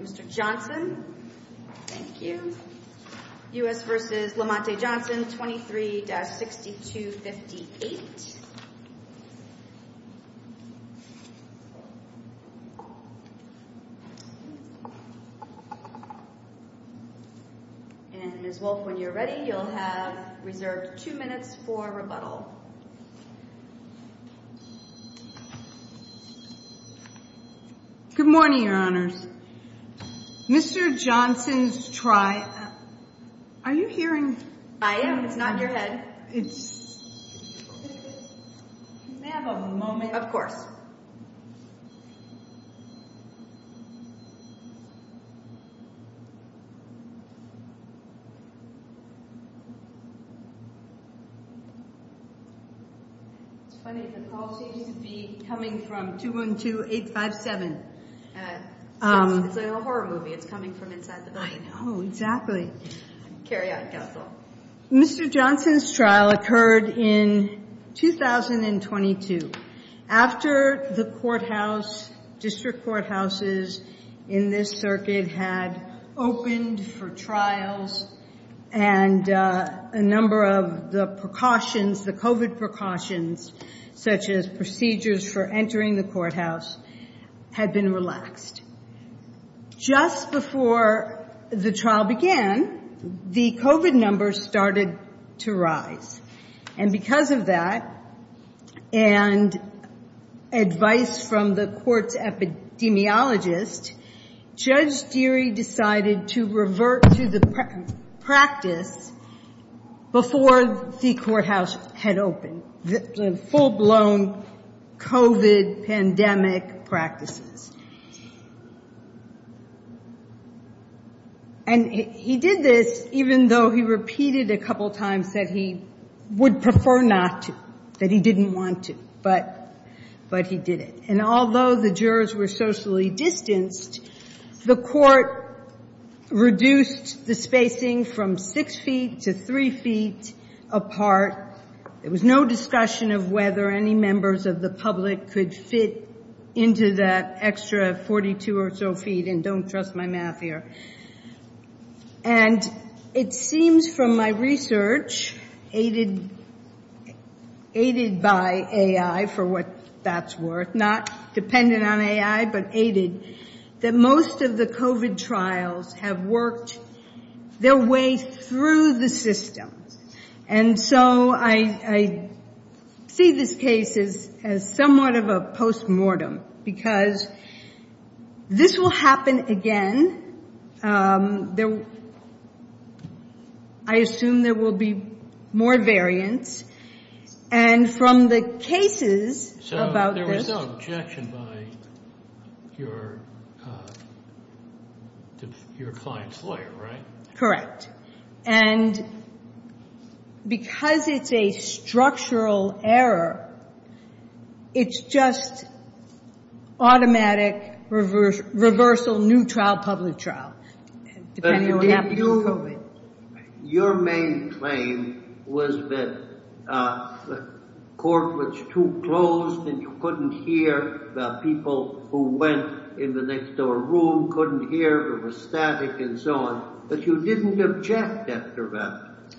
23-6258 and Ms. Wolfe when you're ready you'll have reserved two minutes for rebuttal. Good morning, your honors. Mr. Johnson's triad. Are you hearing? I am. It's not your head. It's. May I have a moment? Of course. It's funny, the call seems to be coming from 212-857. It's like a horror movie. It's coming from inside the building. I know, exactly. Mr. Johnson's trial occurred in 2022 after the courthouse, district courthouses in this circuit had opened for trials and a number of the precautions, the COVID precautions, such as procedures for entering the courthouse had been relaxed. Just before the trial began, the COVID numbers started to rise. And because of that, and advice from the court's epidemiologist, Judge Deary decided to revert to the practice before the courthouse had opened, the full-blown COVID pandemic practices. And he did this even though he repeated a couple times that he would prefer not to, that he didn't want to. But he did it. And although the jurors were socially distanced, the court reduced the spacing from six feet to three feet apart. There was no discussion of whether any members of the public could fit into that extra 42 or so feet. And don't trust my math here. And it seems from my research, aided by AI, for what that's worth, not dependent on AI, but aided, that most of the COVID trials have worked their way through the system. And so I see this case as somewhat of a postmortem, because this will happen again. I assume there will be more variants. And from the cases about this— So there was no objection by your client's lawyer, right? Correct. And because it's a structural error, it's just automatic reversal, new trial, public trial, depending on what happens with COVID. Your main claim was that the court was too closed and you couldn't hear the people who went in the next door room, couldn't hear, it was static and so on. But you didn't object after that.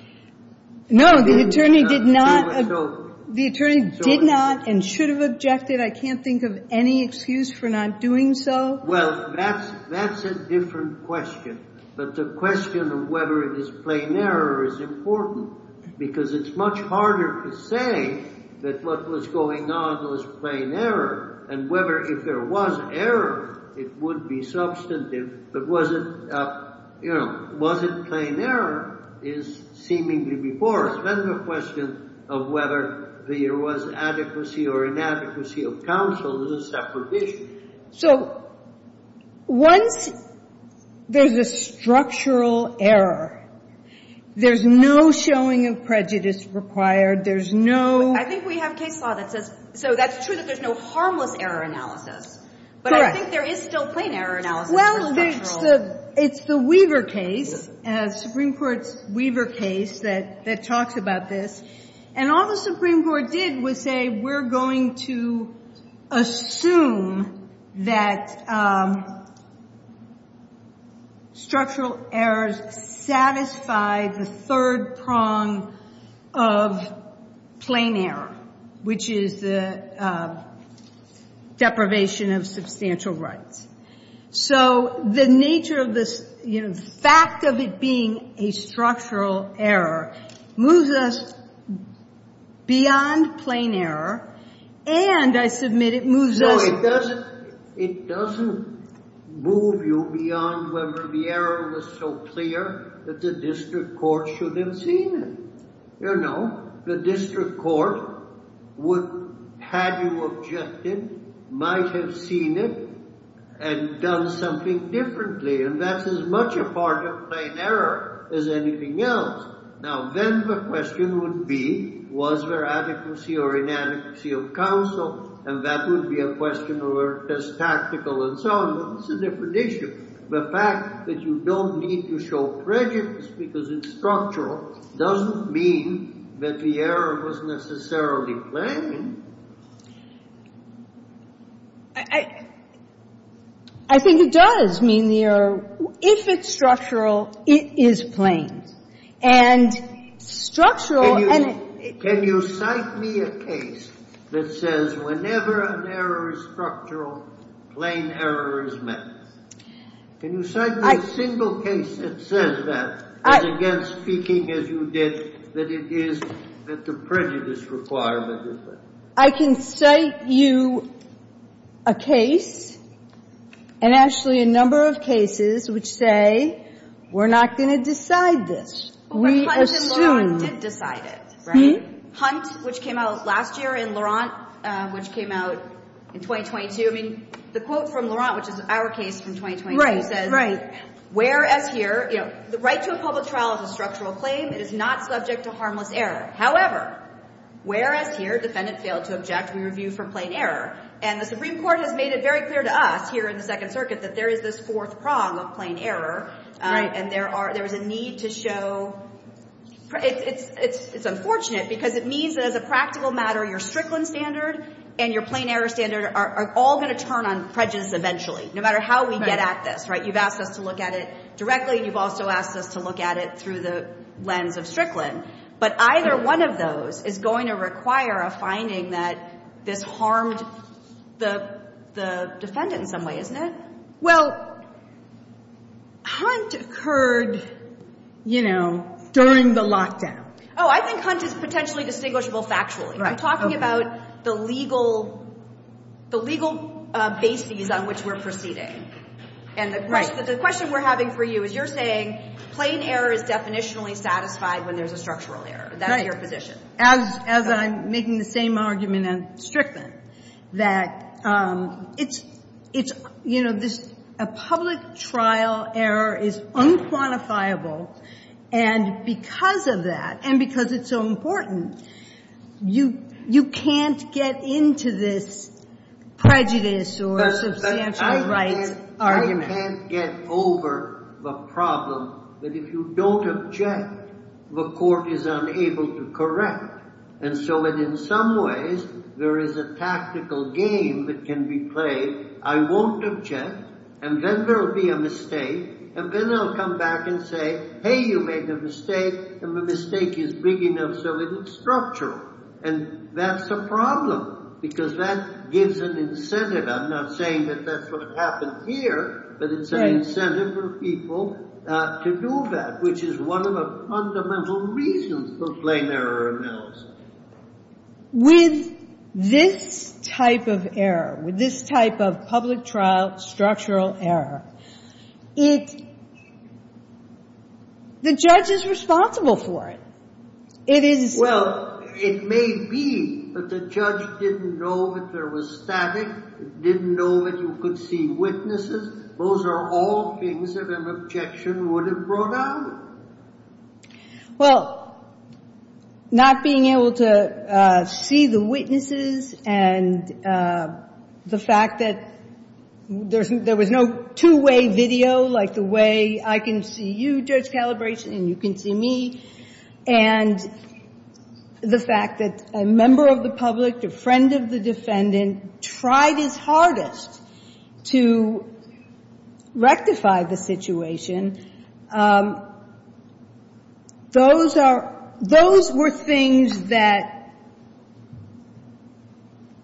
No, the attorney did not. The attorney did not and should have objected. I can't think of any excuse for not doing so. Well, that's a different question. But the question of whether it is plain error is important, because it's much harder to say that what was going on was plain error, and whether if there was error, it would be substantive. But was it plain error is seemingly before us. Then the question of whether there was adequacy or inadequacy of counsel is a separate issue. So once there's a structural error, there's no showing of prejudice required. There's no— I think we have case law that says—so that's true that there's no harmless error analysis. Correct. But I think there is still plain error analysis for structural— that structural errors satisfy the third prong of plain error, which is the deprivation of substantial rights. So the nature of this fact of it being a structural error moves us beyond plain error and, I submit, it moves us— it doesn't move you beyond whether the error was so clear that the district court should have seen it. You know, the district court would, had you objected, might have seen it and done something differently, and that's as much a part of plain error as anything else. Now, then the question would be, was there adequacy or inadequacy of counsel, and that would be a question of whether it was tactical and so on, but it's a different issue. The fact that you don't need to show prejudice because it's structural doesn't mean that the error was necessarily plain. I think it does mean the error—if it's structural, it is plain. And structural— Can you cite me a case that says whenever an error is structural, plain error is met? Can you cite me a single case that says that, as against speaking as you did, that it is that the prejudice requirement is met? I can cite you a case, and actually a number of cases, which say we're not going to decide this. We assume— But Hunt and Laurent did decide it, right? Hunt, which came out last year, and Laurent, which came out in 2022. I mean, the quote from Laurent, which is our case from 2022, says— Right, right. Whereas here, you know, the right to a public trial is a structural claim. It is not subject to harmless error. However, whereas here, defendant failed to object, we review for plain error. And the Supreme Court has made it very clear to us here in the Second Circuit that there is this fourth prong of plain error. Right. And there are—there is a need to show—it's unfortunate because it means that, as a practical matter, your Strickland standard and your plain error standard are all going to turn on prejudice eventually, no matter how we get at this. Right. You've asked us to look at it directly, and you've also asked us to look at it through the lens of Strickland. But either one of those is going to require a finding that this harmed the defendant in some way, isn't it? Well, Hunt occurred, you know, during the lockdown. Oh, I think Hunt is potentially distinguishable factually. Right. I'm talking about the legal bases on which we're proceeding. Right. And the question we're having for you is you're saying plain error is definitionally satisfied when there's a structural error. Right. That's your position. As I'm making the same argument on Strickland, that it's, you know, a public trial error is unquantifiable. And because of that, and because it's so important, you can't get into this prejudice or substantial rights argument. You can't get over the problem that if you don't object, the court is unable to correct. And so in some ways, there is a tactical game that can be played. I won't object, and then there'll be a mistake, and then I'll come back and say, hey, you made a mistake, and the mistake is big enough so it's structural. And that's a problem, because that gives an incentive. I'm not saying that that's what happened here, but it's an incentive for people to do that, which is one of the fundamental reasons for plain error analysis. With this type of error, with this type of public trial structural error, the judge is responsible for it. Well, it may be that the judge didn't know that there was static, didn't know that you could see witnesses. Those are all things that an objection would have brought out. Well, not being able to see the witnesses and the fact that there was no two-way video, like the way I can see you, Judge Calabresi, and you can see me, and the fact that a member of the public, a friend of the defendant, tried his hardest to rectify the situation, those were things that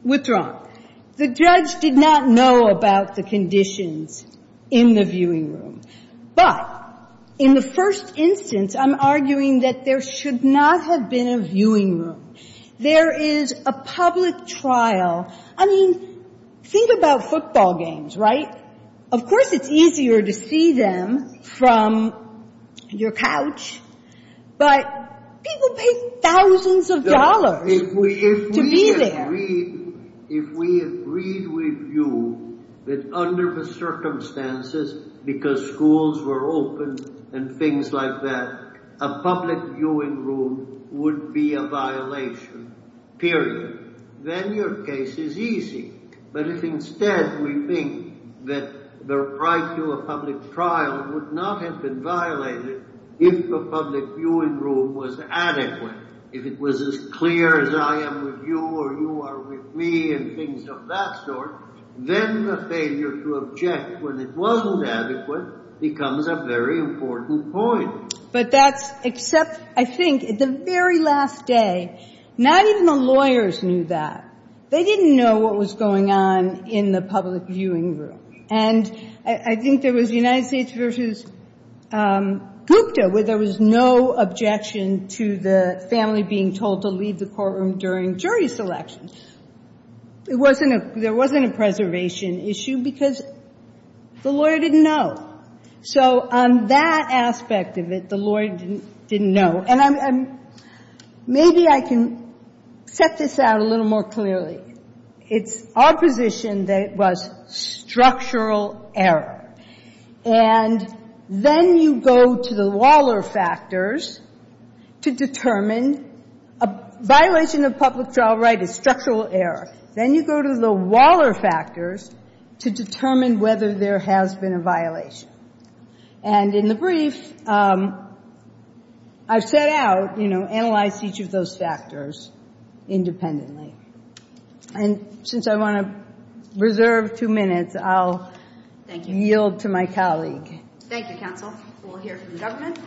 withdrawn. The judge did not know about the conditions in the viewing room. But in the first instance, I'm arguing that there should not have been a viewing room. There is a public trial. I mean, think about football games, right? Of course it's easier to see them from your couch, but people pay thousands of dollars to be there. If we agreed with you that under the circumstances, because schools were open and things like that, a public viewing room would be a violation, period, then your case is easy. But if instead we think that the right to a public trial would not have been violated if the public viewing room was adequate, if it was as clear as I am with you or you are with me and things of that sort, then the failure to object when it wasn't adequate becomes a very important point. But that's except, I think, the very last day, not even the lawyers knew that. They didn't know what was going on in the public viewing room. And I think there was United States v. Gupta where there was no objection to the family being told to leave the courtroom during jury selection. There wasn't a preservation issue because the lawyer didn't know. So on that aspect of it, the lawyer didn't know. And maybe I can set this out a little more clearly. It's opposition that was structural error. And then you go to the Waller factors to determine a violation of public trial right is structural error. Then you go to the Waller factors to determine whether there has been a violation. And in the brief, I've set out, you know, analyzed each of those factors independently. And since I want to reserve two minutes, I'll yield to my colleague. Thank you, counsel. We'll hear from the government.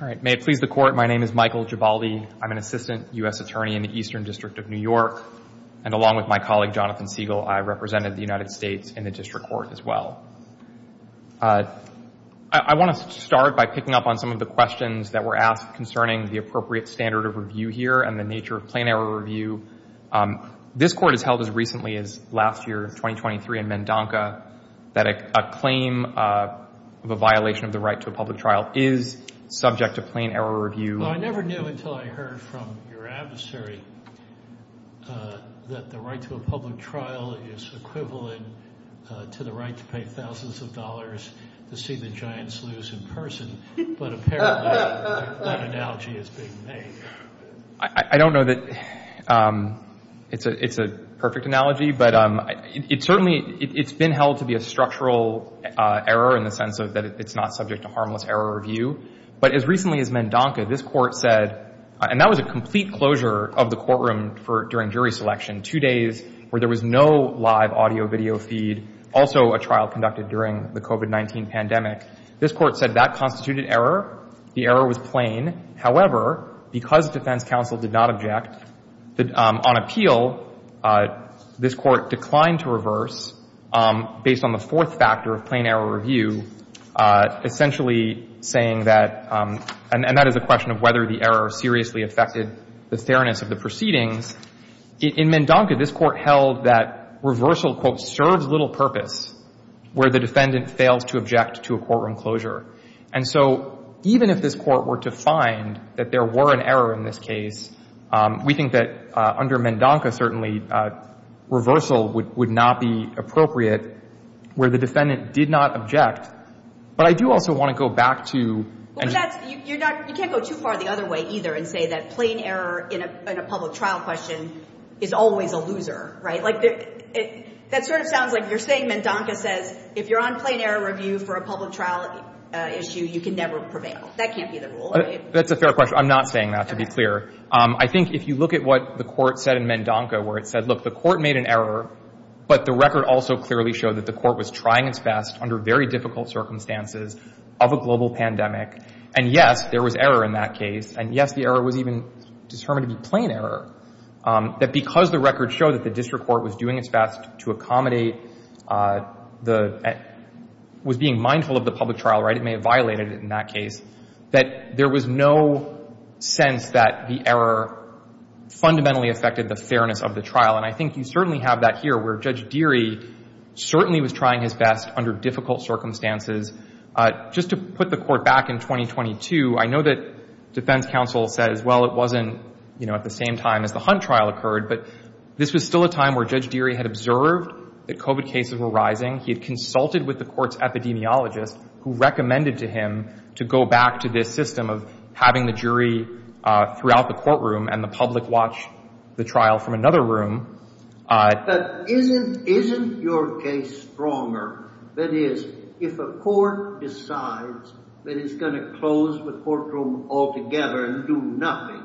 All right. May it please the Court, my name is Michael Gibaldi. I'm an assistant U.S. attorney in the Eastern District of New York. And along with my colleague, Jonathan Siegel, I represented the United States in the district court as well. I want to start by picking up on some of the questions that were asked concerning the appropriate standard of review here and the nature of plain error review. This Court has held as recently as last year, 2023, in Mendonca, that a claim of a violation of the right to a public trial is subject to plain error review. Well, I never knew until I heard from your adversary that the right to a public trial is equivalent to the right to pay thousands of dollars to see the Giants lose in person. But apparently, that analogy is being made. I don't know that it's a perfect analogy. But it certainly, it's been held to be a structural error in the sense that it's not subject to harmless error review. But as recently as Mendonca, this Court said, and that was a complete closure of the courtroom during jury selection, two days where there was no live audio-video feed, also a trial conducted during the COVID-19 pandemic. This Court said that constituted error. The error was plain. However, because defense counsel did not object, on appeal, this Court declined to reverse based on the fourth factor of plain error review, essentially saying that, and that is a question of whether the error seriously affected the fairness of the proceedings. In Mendonca, this Court held that reversal, quote, serves little purpose where the defendant fails to object to a courtroom closure. And so even if this Court were to find that there were an error in this case, we think that under Mendonca, certainly, reversal would not be appropriate where the defendant did not object. But I do also want to go back to— But that's, you're not, you can't go too far the other way, either, and say that plain error in a public trial question is always a loser, right? That sort of sounds like you're saying Mendonca says, if you're on plain error review for a public trial issue, you can never prevail. That can't be the rule, right? That's a fair question. I'm not saying that, to be clear. I think if you look at what the Court said in Mendonca, where it said, look, the Court made an error, but the record also clearly showed that the Court was trying its best under very difficult circumstances of a global pandemic. And, yes, there was error in that case. And, yes, the error was even determined to be plain error. That because the record showed that the district court was doing its best to accommodate the—was being mindful of the public trial, right? It may have violated it in that case. That there was no sense that the error fundamentally affected the fairness of the trial. And I think you certainly have that here, where Judge Deery certainly was trying his best under difficult circumstances. Just to put the Court back in 2022, I know that defense counsel says, well, it wasn't, you know, at the same time as the Hunt trial occurred. But this was still a time where Judge Deery had observed that COVID cases were rising. He had consulted with the Court's epidemiologist, who recommended to him to go back to this system of having the jury throughout the courtroom and the public watch the trial from another room. But isn't your case stronger? That is, if a court decides that it's going to close the courtroom altogether and do nothing,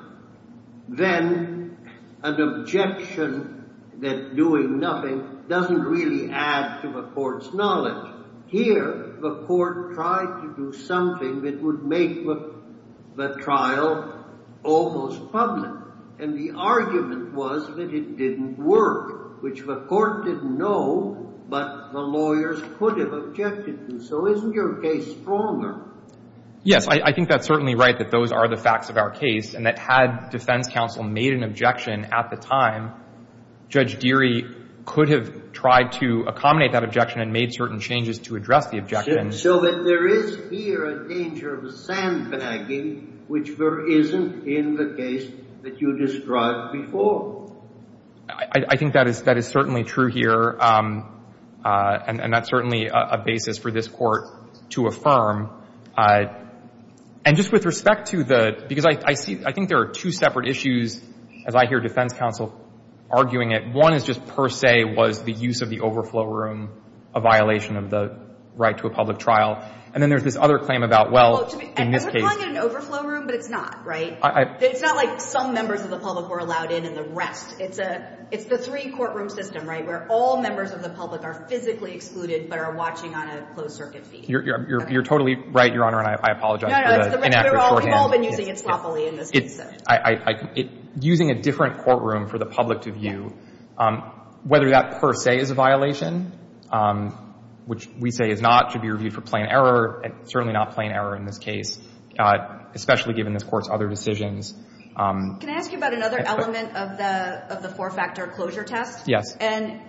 then an objection that doing nothing doesn't really add to the Court's knowledge. Here, the Court tried to do something that would make the trial almost public. And the argument was that it didn't work, which the Court didn't know, but the lawyers could have objected to. So isn't your case stronger? Yes. I think that's certainly right, that those are the facts of our case, and that had defense counsel made an objection at the time, Judge Deery could have tried to accommodate that objection and made certain changes to address the objection. So that there is here a danger of sandbagging, which isn't in the case that you described before. I think that is certainly true here, and that's certainly a basis for this Court to affirm. And just with respect to the—because I think there are two separate issues, as I hear defense counsel arguing it. One is just per se was the use of the overflow room, a violation of the right to a public trial. And then there's this other claim about, well, in this case— And we're calling it an overflow room, but it's not, right? It's not like some members of the public were allowed in and the rest. It's the three-courtroom system, right, where all members of the public are physically excluded but are watching on a closed-circuit feed. You're totally right, Your Honor, and I apologize for the inaccurate shorthand. We've all been using it sloppily in this case. Using a different courtroom for the public to view, whether that per se is a violation, which we say is not, should be reviewed for plain error, certainly not plain error in this case, especially given this Court's other decisions. Can I ask you about another element of the four-factor closure test? Yes. And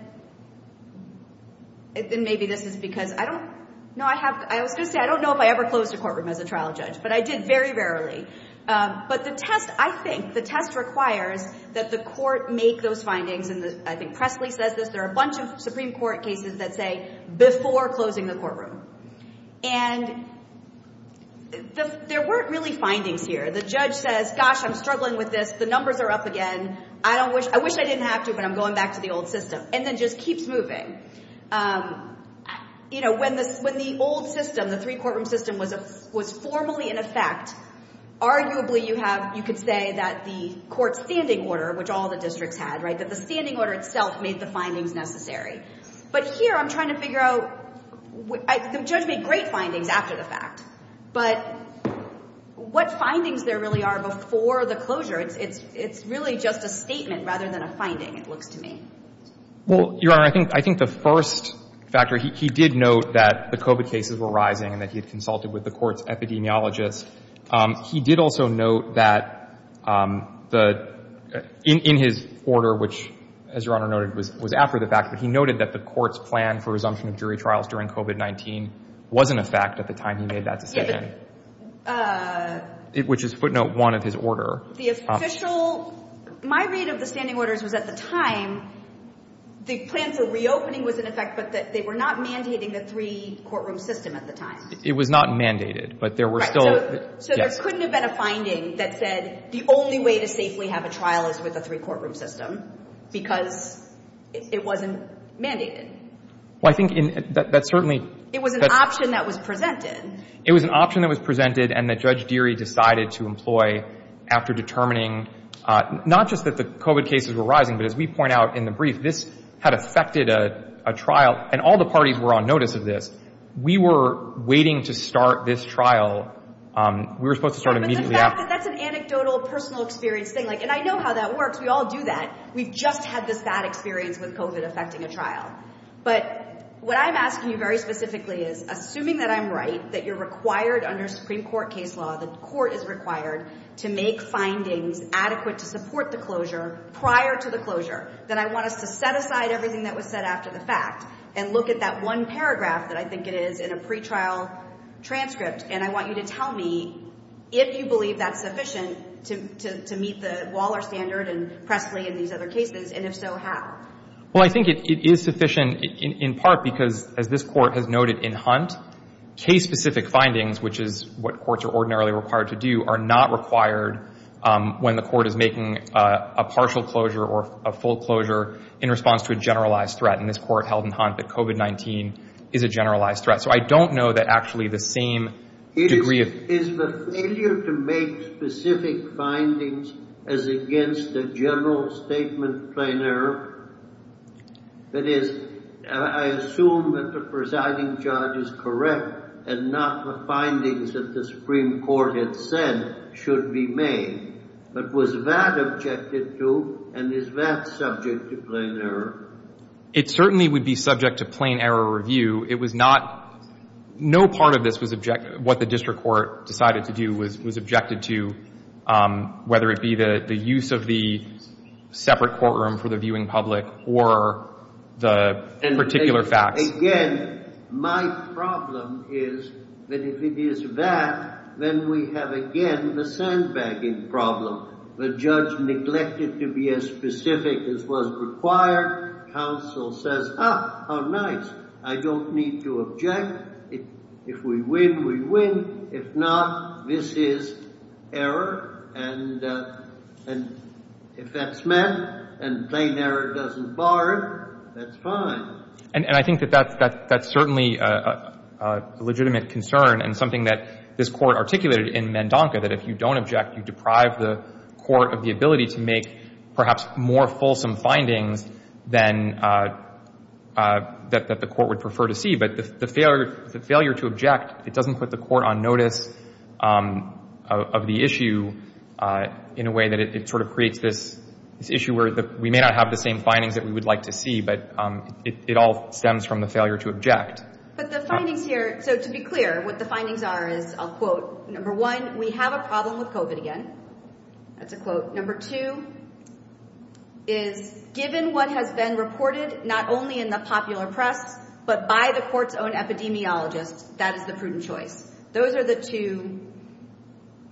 maybe this is because I don't—no, I was going to say I don't know if I ever closed a courtroom as a trial judge, but I did very rarely. But the test, I think, the test requires that the Court make those findings, and I think Presley says this, there are a bunch of Supreme Court cases that say, before closing the courtroom. And there weren't really findings here. The judge says, gosh, I'm struggling with this. The numbers are up again. I don't wish—I wish I didn't have to, but I'm going back to the old system, and then just keeps moving. You know, when the old system, the three-courtroom system, was formally in effect, arguably you have—you could say that the Court's standing order, which all the districts had, right, that the standing order itself made the findings necessary. But here I'm trying to figure out—the judge made great findings after the fact, but what findings there really are before the closure, it's really just a statement rather than a finding, it looks to me. Well, Your Honor, I think the first factor, he did note that the COVID cases were rising and that he had consulted with the Court's epidemiologist. He did also note that the—in his order, which, as Your Honor noted, was after the fact, but he noted that the Court's plan for resumption of jury trials during COVID-19 wasn't a fact at the time he made that decision. Yeah, but— Which is footnote one of his order. The official—my read of the standing orders was at the time the plan for reopening was in effect, but that they were not mandating the three-courtroom system at the time. It was not mandated, but there were still— Right, so there couldn't have been a finding that said the only way to safely have a trial is with a three-courtroom system, because it wasn't mandated. Well, I think that certainly— It was an option that was presented. It was an option that was presented and that Judge Deery decided to employ after determining not just that the COVID cases were rising, but as we point out in the brief, this had affected a trial, and all the parties were on notice of this. We were waiting to start this trial. We were supposed to start immediately after. But the fact that that's an anecdotal, personal experience thing, like, and I know how that works. We all do that. We've just had this bad experience with COVID affecting a trial. But what I'm asking you very specifically is, assuming that I'm right, that you're required under Supreme Court case law, the court is required to make findings adequate to support the closure prior to the closure, that I want us to set aside everything that was said after the fact and look at that one paragraph that I think it is in a pretrial transcript, and I want you to tell me if you believe that's sufficient to meet the Waller standard and Pressley and these other cases, and if so, how? Well, I think it is sufficient in part because, as this court has noted in Hunt, case-specific findings, which is what courts are ordinarily required to do, are not required when the court is making a partial closure or a full closure in response to a generalized threat. And this court held in Hunt that COVID-19 is a generalized threat. So I don't know that actually the same degree of… Is the failure to make specific findings as against the general statement plain error? That is, I assume that the presiding judge is correct and not the findings that the Supreme Court had said should be made. But was that objected to, and is that subject to plain error? It certainly would be subject to plain error review. No part of what the district court decided to do was objected to, whether it be the use of the separate courtroom for the viewing public or the particular facts. Again, my problem is that if it is that, then we have again the sandbagging problem. The judge neglected to be as specific as was required. Counsel says, ah, how nice. I don't need to object. If we win, we win. If not, this is error. And if that's met and plain error doesn't bar it, that's fine. And I think that that's certainly a legitimate concern and something that this court articulated in Mandonca, that if you don't object, you deprive the court of the ability to make perhaps more fulsome findings than that the court would prefer to see. But the failure to object, it doesn't put the court on notice of the issue in a way that it sort of creates this issue where we may not have the same findings that we would like to see, but it all stems from the failure to object. But the findings here, so to be clear, what the findings are is, I'll quote, number one, we have a problem with COVID again. That's a quote. Number two is given what has been reported not only in the popular press, but by the court's own epidemiologist, that is the prudent choice. Those are the two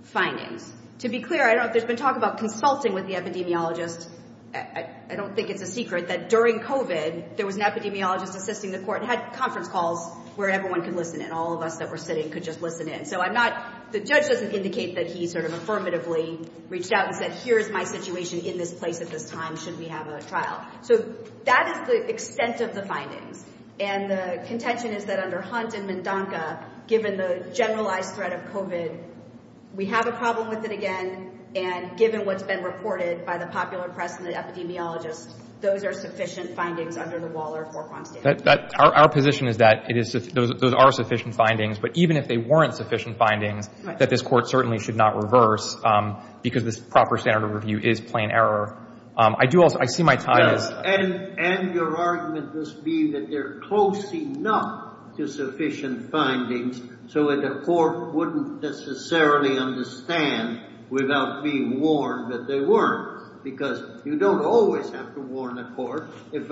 findings. To be clear, I don't know if there's been talk about consulting with the epidemiologist. I don't think it's a secret that during COVID, there was an epidemiologist assisting the court and had conference calls where everyone could listen in, all of us that were sitting could just listen in. So I'm not, the judge doesn't indicate that he sort of affirmatively reached out and said, here's my situation in this place at this time, should we have a trial. So that is the extent of the findings. And the contention is that under Hunt and MnDONCA, given the generalized threat of COVID, we have a problem with it again, and given what's been reported by the popular press and the epidemiologist, those are sufficient findings under the Waller-Forquan standard. Our position is that those are sufficient findings, but even if they weren't sufficient findings, that this court certainly should not reverse, because this proper standard of review is plain error. I do also, I see my time is. And your argument must be that they're close enough to sufficient findings so that the court wouldn't necessarily understand without being warned that they weren't. Because you don't always have to warn the court. If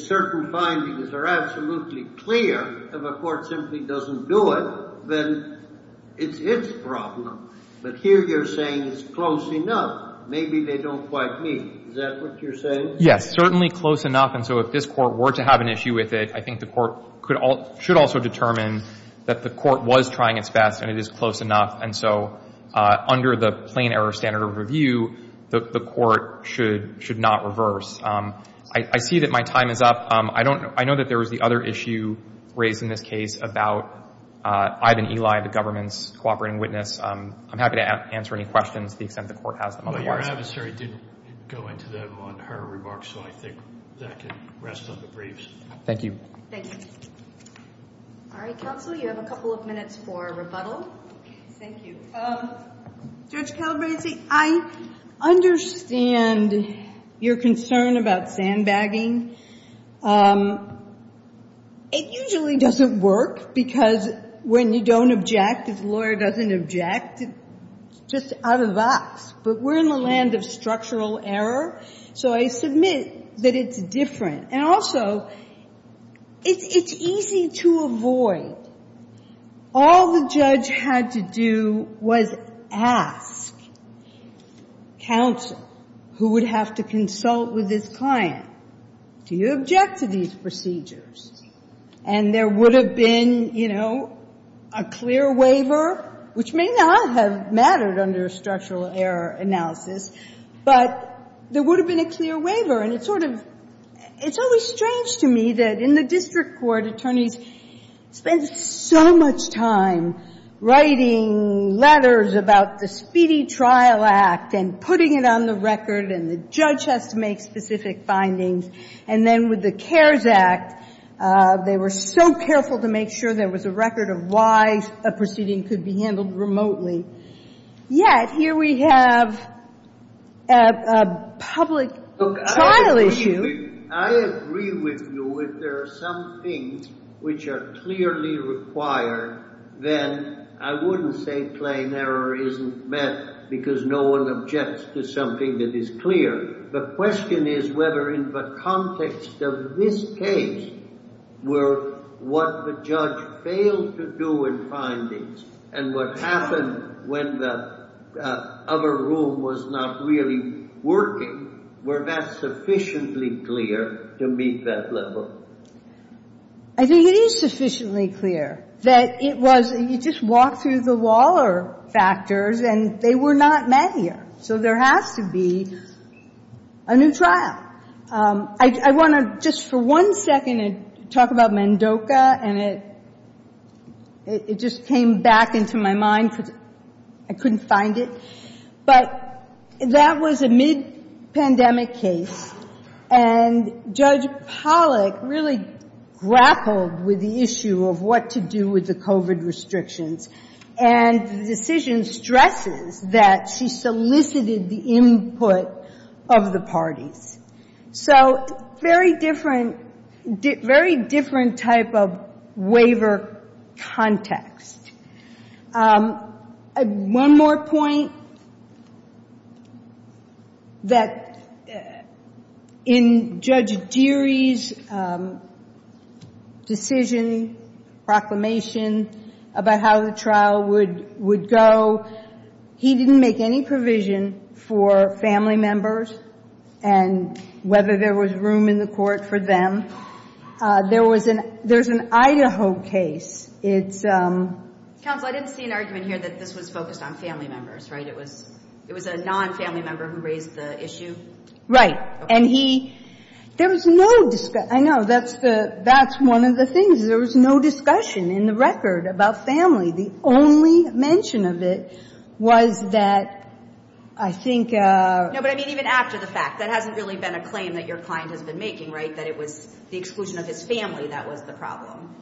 certain findings are absolutely clear, if a court simply doesn't do it, then it's its problem. But here you're saying it's close enough. Maybe they don't quite meet. Is that what you're saying? Yes, certainly close enough. And so if this court were to have an issue with it, I think the court should also determine that the court was trying its best and it is close enough. And so under the plain error standard of review, the court should not reverse. I see that my time is up. I know that there was the other issue raised in this case about Ivan Eli, the government's cooperating witness. I'm happy to answer any questions to the extent the court has them otherwise. But your adversary didn't go into them on her remarks, so I think that can rest on the briefs. Thank you. Thank you. All right, counsel, you have a couple of minutes for rebuttal. Thank you. Judge Calabresi, I understand your concern about sandbagging. It usually doesn't work because when you don't object, if the lawyer doesn't object, it's just out of the box. But we're in the land of structural error, so I submit that it's different. And also, it's easy to avoid. All the judge had to do was ask counsel, who would have to consult with his client, do you object to these procedures? And there would have been, you know, a clear waiver, which may not have mattered under a structural error analysis, but there would have been a clear waiver. And it's sort of – it's always strange to me that in the district court, attorneys spend so much time writing letters about the speedy trial act and putting it on the record and the judge has to make specific findings. And then with the CARES Act, they were so careful to make sure there was a record of why a proceeding could be handled remotely. Yet, here we have a public trial issue. I agree with you. If there are some things which are clearly required, then I wouldn't say plain error isn't met because no one objects to something that is clear. The question is whether in the context of this case were what the judge failed to do in findings and what happened when the other rule was not really working, were that sufficiently clear to meet that level? I think it is sufficiently clear that it was – you just walk through the wall of factors and they were not met here. So there has to be a new trial. I want to just for one second talk about Mendoca and it just came back into my mind. I couldn't find it. But that was a mid-pandemic case and Judge Pollack really grappled with the issue of what to do with the COVID restrictions. And the decision stresses that she solicited the input of the parties. So very different type of waiver context. One more point that in Judge Deery's decision, proclamation about how the trial would go, he didn't make any provision for family members and whether there was room in the court for them. There's an Idaho case. Counsel, I didn't see an argument here that this was focused on family members, right? It was a non-family member who raised the issue? Right. And he – there was no – I know, that's one of the things. There was no discussion in the record about family. The only mention of it was that I think – No, but I mean even after the fact. That hasn't really been a claim that your client has been making, right, that it was the exclusion of his family that was the problem.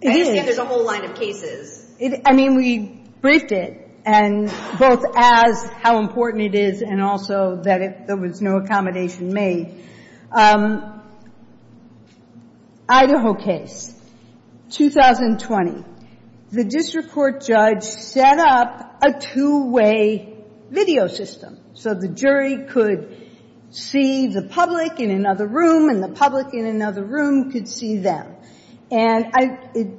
It is. I understand there's a whole line of cases. I mean, we briefed it. And both as how important it is and also that there was no accommodation made. Idaho case, 2020. The district court judge set up a two-way video system. So the jury could see the public in another room and the public in another room could see them. And it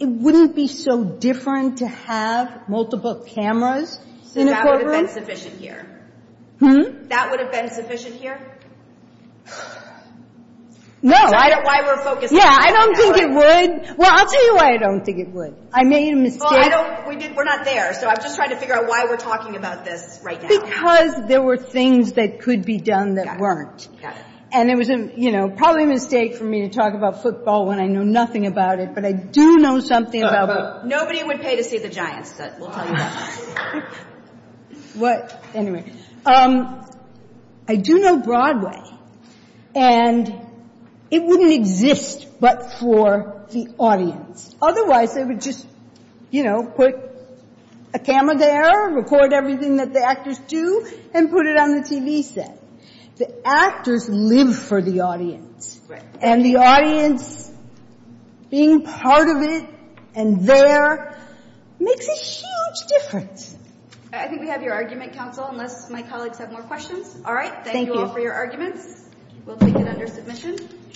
wouldn't be so different to have multiple cameras in a courtroom. So that would have been sufficient here? Hmm? That would have been sufficient here? No. Is that why we're focusing on family members? Yeah, I don't think it would. Well, I'll tell you why I don't think it would. I made a mistake. Well, I don't – we're not there. So I'm just trying to figure out why we're talking about this right now. Because there were things that could be done that weren't. Got it. And it was probably a mistake for me to talk about football when I know nothing about it. But I do know something about – Nobody would pay to see the Giants. We'll tell you that. What? Anyway. I do know Broadway. And it wouldn't exist but for the audience. Otherwise, they would just put a camera there, record everything that the actors do, and put it on the TV set. The actors live for the audience. And the audience being part of it and there makes a huge difference. I think we have your argument, counsel, unless my colleagues have more questions. All right. Thank you. Thank you all for your arguments. We'll take it under submission.